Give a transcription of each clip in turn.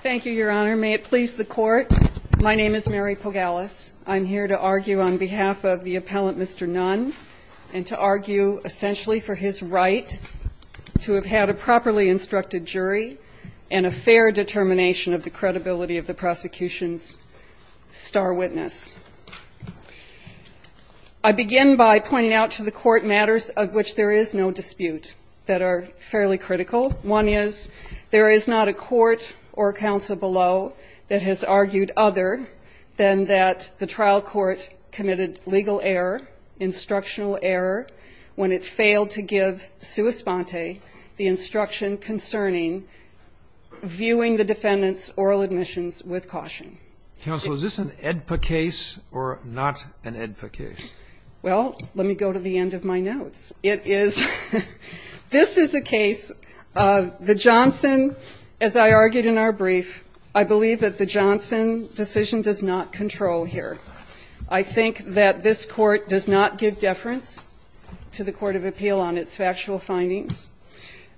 Thank you, Your Honor. May it please the Court, my name is Mary Pogalis. I'm here to argue on behalf of the appellant, Mr. Nunn, and to argue essentially for his right to have had a properly instructed jury and a fair determination of the credibility of the prosecution's star witness. I begin by pointing out to the Court matters of which there is no dispute that are fairly critical. One is, there is not a court or counsel below that has argued other than that the trial court committed legal error, instructional error, when it failed to give sua sponte the instruction concerning viewing the defendant's oral admissions with caution. Counsel, is this an AEDPA case or not an AEDPA case? Well, let me go to the end of my notes. It is, this is a case, the Johnson, as I argued in our brief, I believe that the Johnson decision does not control here. I think that this Court does not give deference to the Court of Appeal on its factual findings.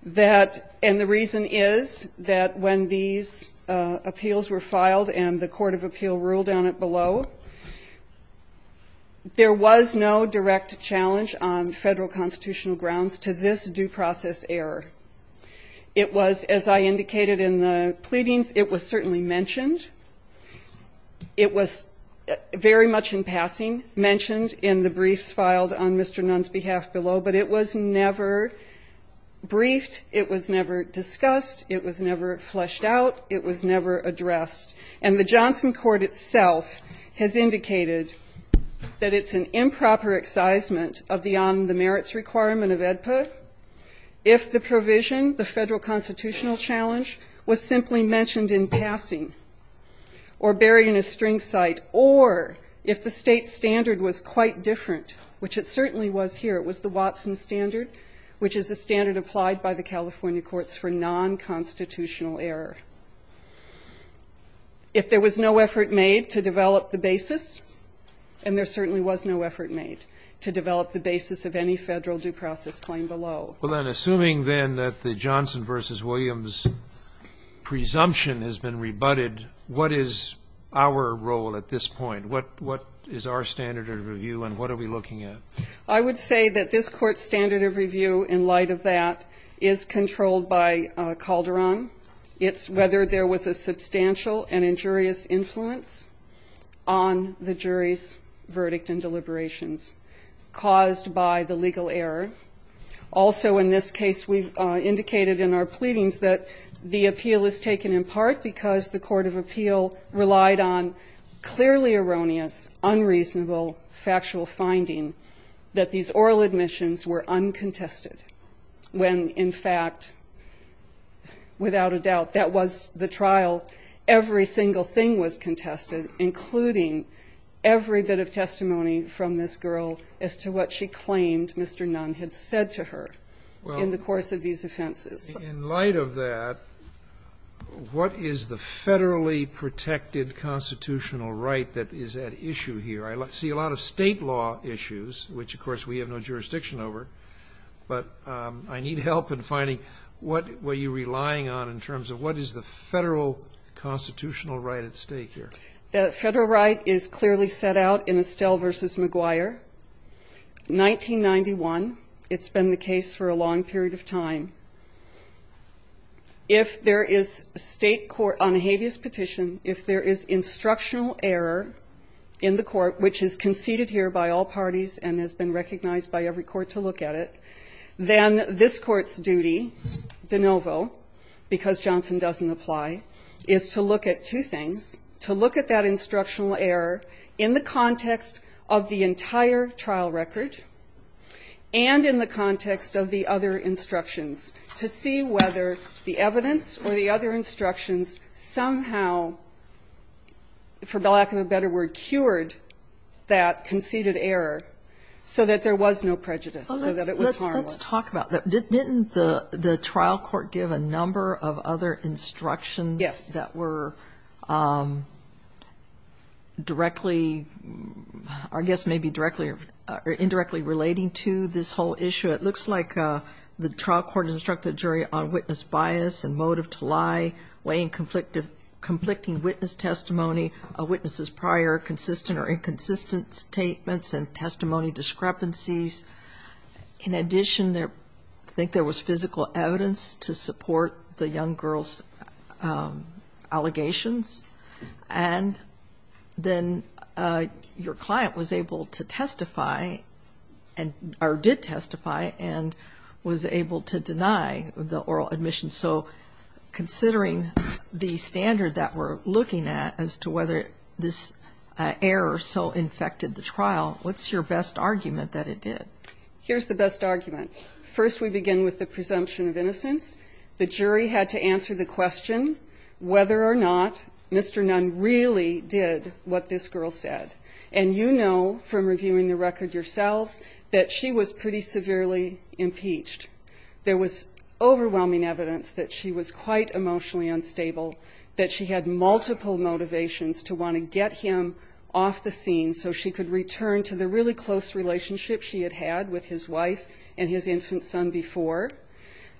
That, and the reason is that when these appeals were filed and the Court of Appeal ruled on it below, there was no direct challenge on federal constitutional grounds to this due process error. It was, as I indicated in the pleadings, it was certainly mentioned. It was very much in passing, mentioned in the briefs filed on Mr. Nunn's behalf below, but it was never briefed, it was never discussed, it was never fleshed out, it was never addressed. And the Johnson court itself has indicated that it's an improper excisement of the merits requirement of AEDPA if the provision, the federal constitutional challenge, was simply mentioned in passing or buried in a string site, or if the state standard was quite different, which it certainly was here, it was the Watson standard, which is a standard applied by the California courts for non-constitutional error. If there was no effort made to develop the basis, and there certainly was no effort made to develop the basis of any federal due process claim below. Well then, assuming then that the Johnson v. Williams presumption has been rebutted, what is our role at this point? What is our standard of review and what are we looking at? I would say that this court's standard of review, in light of that, is controlled by Calderon. It's whether there was a substantial and injurious influence on the jury's verdict and deliberations caused by the legal error. Also, in this case, we've indicated in our pleadings that the appeal is taken in part because the court of appeal relied on clearly erroneous, unreasonable, factual finding that these oral admissions were uncontested. When in fact, without a doubt, that was the trial, every single thing was contested, including every bit of testimony from this girl as to what she claimed Mr. Nunn had said to her in the course of these offenses. In light of that, what is the federally protected constitutional right that is at issue here? I see a lot of state law issues, which of course we have no jurisdiction over, but I need help in finding what were you relying on in terms of what is the federal constitutional right at stake here? The federal right is clearly set out in Estelle v. McGuire. 1991, it's been the case for a long period of time. If there is a state court on a habeas petition, if there is instructional error in the court, which is conceded here by all parties and has been recognized by every court to look at it, then this court's duty, de novo, because Johnson doesn't apply, is to look at two things. To look at that instructional error in the context of the entire trial record and in the context of the other instructions to see whether the evidence or the other instructions somehow, for lack of a better word, cured that conceded error so that there was no prejudice, so that it was harmless. Let's talk about that. Didn't the trial court give a number of other instructions that were directly, I guess maybe directly or indirectly relating to this whole issue? It looks like the trial court instructed the jury on witness bias and motive to lie, weighing conflicting witness testimony, a witness's prior consistent or inconsistent statements and testimony discrepancies. In addition, I think there was physical evidence to support the young girl's allegations. And then your client was able to testify or did testify and was able to deny the oral admission. So considering the standard that we're looking at as to whether this error so infected the trial, what's your best argument that it did? Here's the best argument. First, we begin with the presumption of innocence. The jury had to answer the question whether or not Mr. Nunn really did what this girl said. And you know from reviewing the record yourselves that she was pretty severely impeached. There was overwhelming evidence that she was quite emotionally unstable, that she had multiple motivations to want to get him off the scene so she could return to the really close relationship she had had with his wife and his infant son before.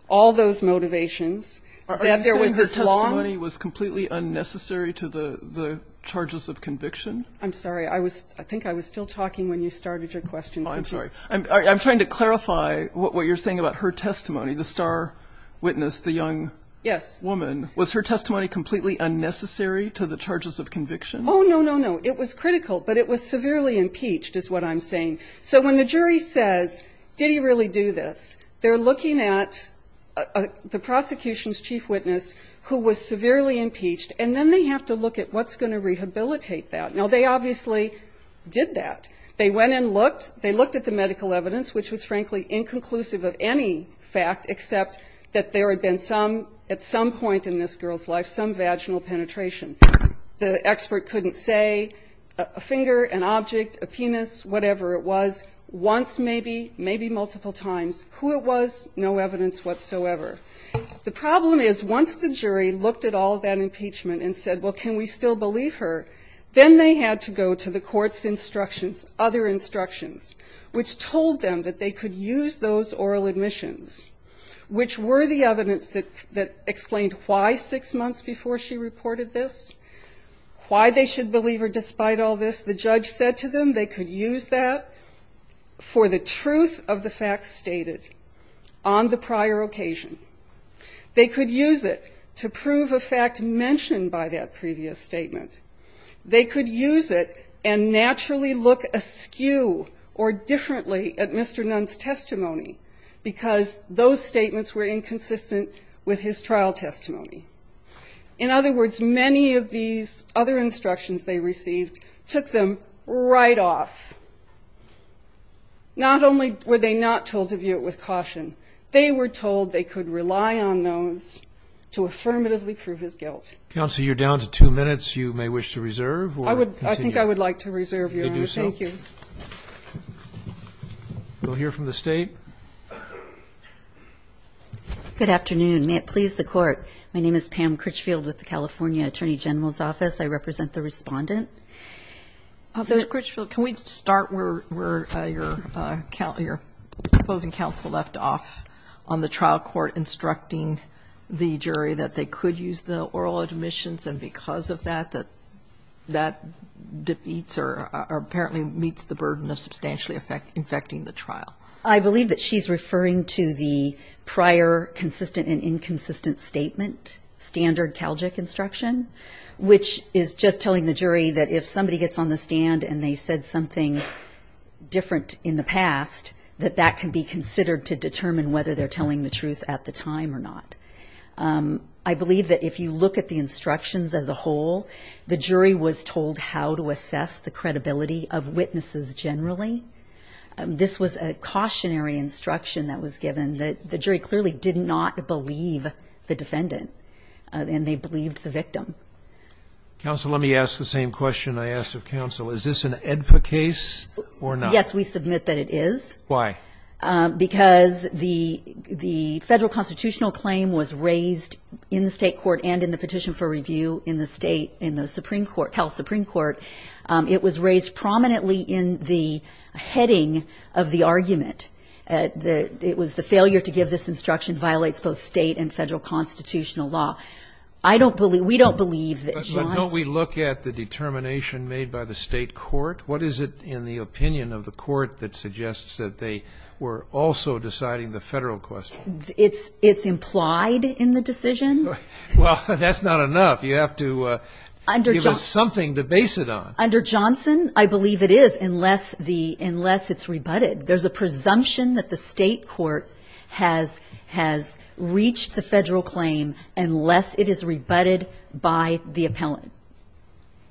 All those motivations. Are you saying her testimony was completely unnecessary to the charges of conviction? I'm sorry. I think I was still talking when you started your question. I'm sorry. I'm trying to clarify what you're saying about her testimony, the star witness, the young woman. Yes. Was her testimony completely unnecessary to the charges of conviction? Oh, no, no, no. It was critical. But it was severely impeached is what I'm saying. So when the jury says, did he really do this, they're looking at the prosecution's chief witness who was severely impeached, and then they have to look at what's going to rehabilitate that. Now, they obviously did that. They went and looked. They looked at the medical evidence, which was, frankly, inconclusive of any fact except that there had been some, at some point in this girl's life, some vaginal penetration. The expert couldn't say a finger, an object, a penis, whatever it was, once maybe, maybe multiple times, who it was, no evidence whatsoever. The problem is once the jury looked at all that impeachment and said, well, can we still believe her, then they had to go to the court's instructions, other instructions, which told them that they could use those oral admissions, which were the evidence that explained why six months before she reported this, why they should believe her despite all this. Because the judge said to them they could use that for the truth of the facts stated on the prior occasion. They could use it to prove a fact mentioned by that previous statement. They could use it and naturally look askew or differently at Mr. Nunn's testimony because those statements were inconsistent with his trial testimony. In other words, many of these other instructions they received took them right off. Not only were they not told to view it with caution, they were told they could rely on those to affirmatively prove his guilt. Counsel, you're down to two minutes. You may wish to reserve. I would. I think I would like to reserve. Thank you. We'll hear from the state. Good afternoon. May it please the court. My name is Pam Critchfield with the California Attorney General's Office. I represent the respondent. Ms. Critchfield, can we start where your opposing counsel left off on the trial court instructing the jury that they could use the oral admissions and because of that, that that defeats or apparently meets the burden of substantially infecting the trial? I believe that she's referring to the prior consistent and inconsistent statement, standard Calgic instruction, which is just telling the jury that if somebody gets on the stand and they said something different in the past, that that can be considered to determine whether they're telling the truth at the time or not. I believe that if you look at the instructions as a whole, the jury was told how to assess the credibility of witnesses generally. This was a cautionary instruction that was given that the jury clearly did not believe the defendant and they believed the victim. Counsel, let me ask the same question I asked of counsel. Is this an AEDPA case or not? Yes, we submit that it is. Why? Because the federal constitutional claim was raised in the state court and in the petition for review in the state, in the Supreme Court, Cal Supreme Court. It was raised prominently in the heading of the argument. It was the failure to give this instruction violates both state and federal constitutional law. I don't believe, we don't believe that John's. But don't we look at the determination made by the state court? What is it in the opinion of the court that suggests that they were also deciding the federal question? It's implied in the decision. Well, that's not enough. You have to give us something to base it on. Under Johnson, I believe it is unless the, unless it's rebutted. There's a presumption that the state court has reached the federal claim unless it is rebutted by the appellant.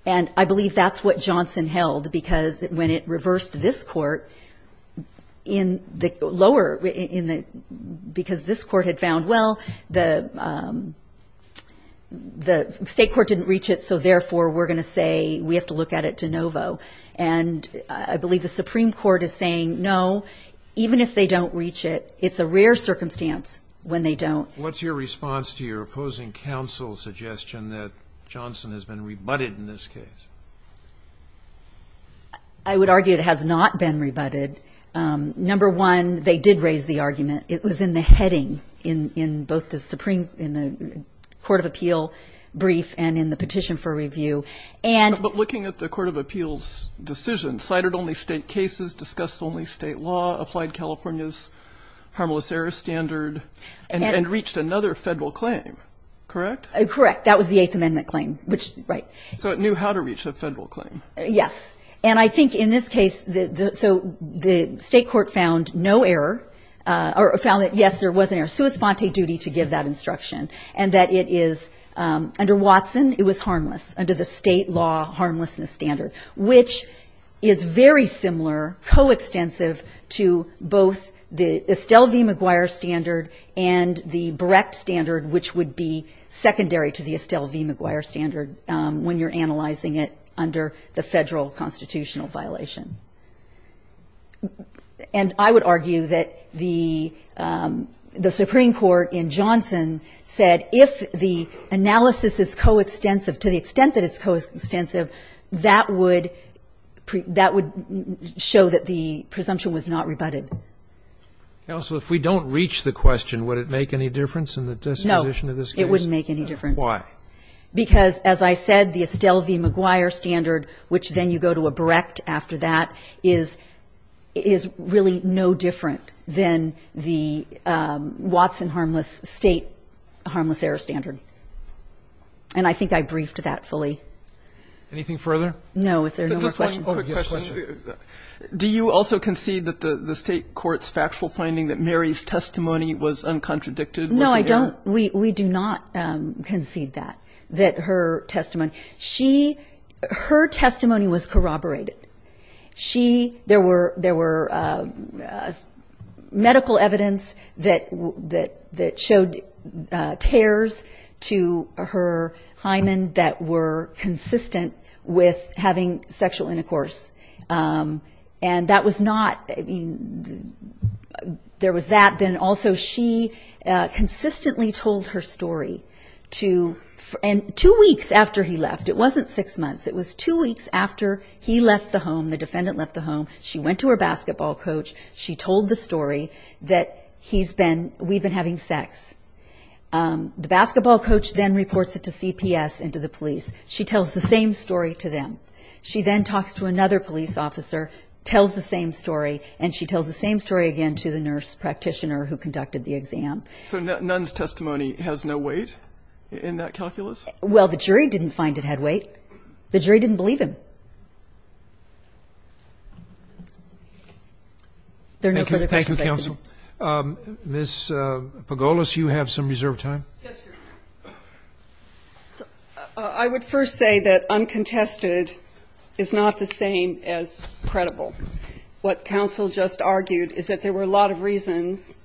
And I believe that's what Johnson held because when it reversed this court in the lower, because this court had found, well, the state court didn't reach it. So, therefore, we're going to say we have to look at it de novo. And I believe the Supreme Court is saying no, even if they don't reach it, it's a rare circumstance when they don't. What's your response to your opposing counsel's suggestion that Johnson has been rebutted in this case? I would argue it has not been rebutted. Number one, they did raise the argument. It was in the heading in both the Supreme, in the court of appeal brief and in the petition for review. But looking at the court of appeals decision, cited only state cases, discussed only state law, applied California's harmless error standard, and reached another federal claim, correct? Correct. That was the Eighth Amendment claim, which, right. So it knew how to reach a federal claim. Yes. And I think in this case, so the state court found no error, or found that, yes, there was an error. Sui sponte duty to give that instruction, and that it is, under Watson, it was harmless, under the state law harmlessness standard, which is very similar, coextensive to both the Estelle v. McGuire standard and the Brecht standard, which would be secondary to the Estelle v. McGuire standard when you're analyzing it under the federal constitutional violation. And I would argue that the Supreme Court in Johnson said if the analysis is coextensive, to the extent that it's coextensive, that would show that the presumption was not rebutted. Counsel, if we don't reach the question, would it make any difference in the dispute? No. It wouldn't make any difference. Why? Because, as I said, the Estelle v. McGuire standard, which then you go to a Brecht after that, is really no different than the Watson harmless state harmless error standard. And I think I briefed that fully. Anything further? No. If there are no more questions. Just one quick question. Do you also concede that the state court's factual finding that Mary's testimony was uncontradicted? No, I don't. We do not concede that, that her testimony. She, her testimony was corroborated. She, there were medical evidence that showed tears to her hymen that were consistent with having sexual intercourse. And that was not, there was that. Then also, she consistently told her story to, and two weeks after he left, it wasn't six months, it was two weeks after he left the home, the defendant left the home, she went to her basketball coach, she told the story that he's been, we've been having sex. The basketball coach then reports it to CPS and to the police. She tells the same story to them. She then talks to another police officer, tells the same story, and she tells the same story again to the nurse practitioner who conducted the exam. So none's testimony has no weight in that calculus? Well, the jury didn't find it had weight. The jury didn't believe him. There are no further questions. Thank you, counsel. Ms. Pagolos, you have some reserved time. Yes, Your Honor. I would first say that uncontested is not the same as credible. What counsel just argued is that there were a lot of reasons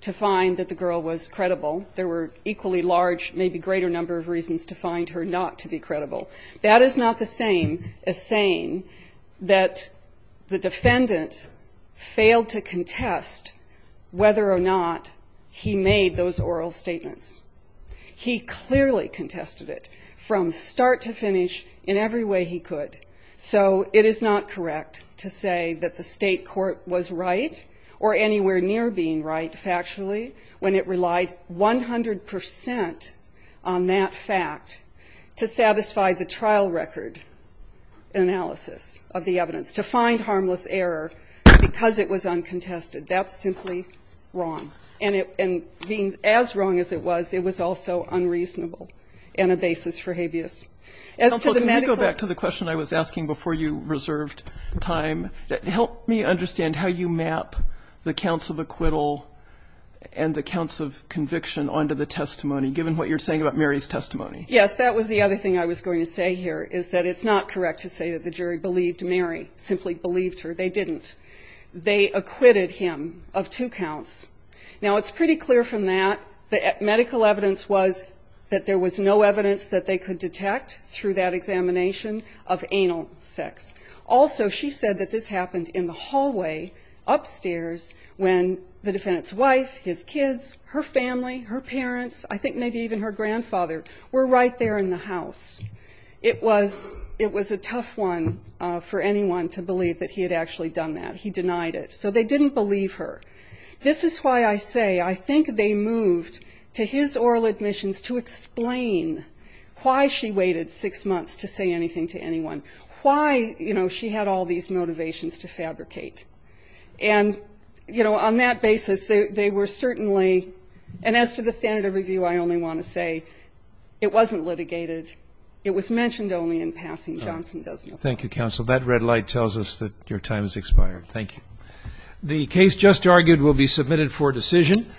to find that the girl was credible. There were equally large, maybe greater number of reasons to find her not to be credible. That is not the same as saying that the defendant failed to contest whether or not he made those oral statements. He clearly contested it from start to finish in every way he could. So it is not correct to say that the state court was right or anywhere near being right factually when it relied 100 percent on that fact to satisfy the trial record analysis of the evidence, to find harmless error because it was uncontested. That's simply wrong. And being as wrong as it was, it was also unreasonable and a basis for habeas. Counsel, can we go back to the question I was asking before you reserved time? Help me understand how you map the counts of acquittal and the counts of conviction onto the testimony, given what you're saying about Mary's testimony. Yes, that was the other thing I was going to say here, is that it's not correct to say that the jury believed Mary, simply believed her. They didn't. They acquitted him of two counts. Now, it's pretty clear from that that medical evidence was that there was no evidence that they could detect through that examination of anal sex. Also, she said that this happened in the hallway upstairs when the defendant's wife, his kids, her family, her parents, I think maybe even her grandfather, were right there in the house. It was a tough one for anyone to believe that he had actually done that. He denied it. So they didn't believe her. This is why I say I think they moved to his oral admissions to explain why she waited six months to say anything to anyone, why, you know, she had all these motivations to fabricate. And, you know, on that basis, they were certainly, and as to the standard of review, I only want to say it wasn't litigated. It was mentioned only in passing. Johnson doesn't apply. Thank you, counsel. That red light tells us that your time has expired. Thank you. The case just argued will be submitted for decision.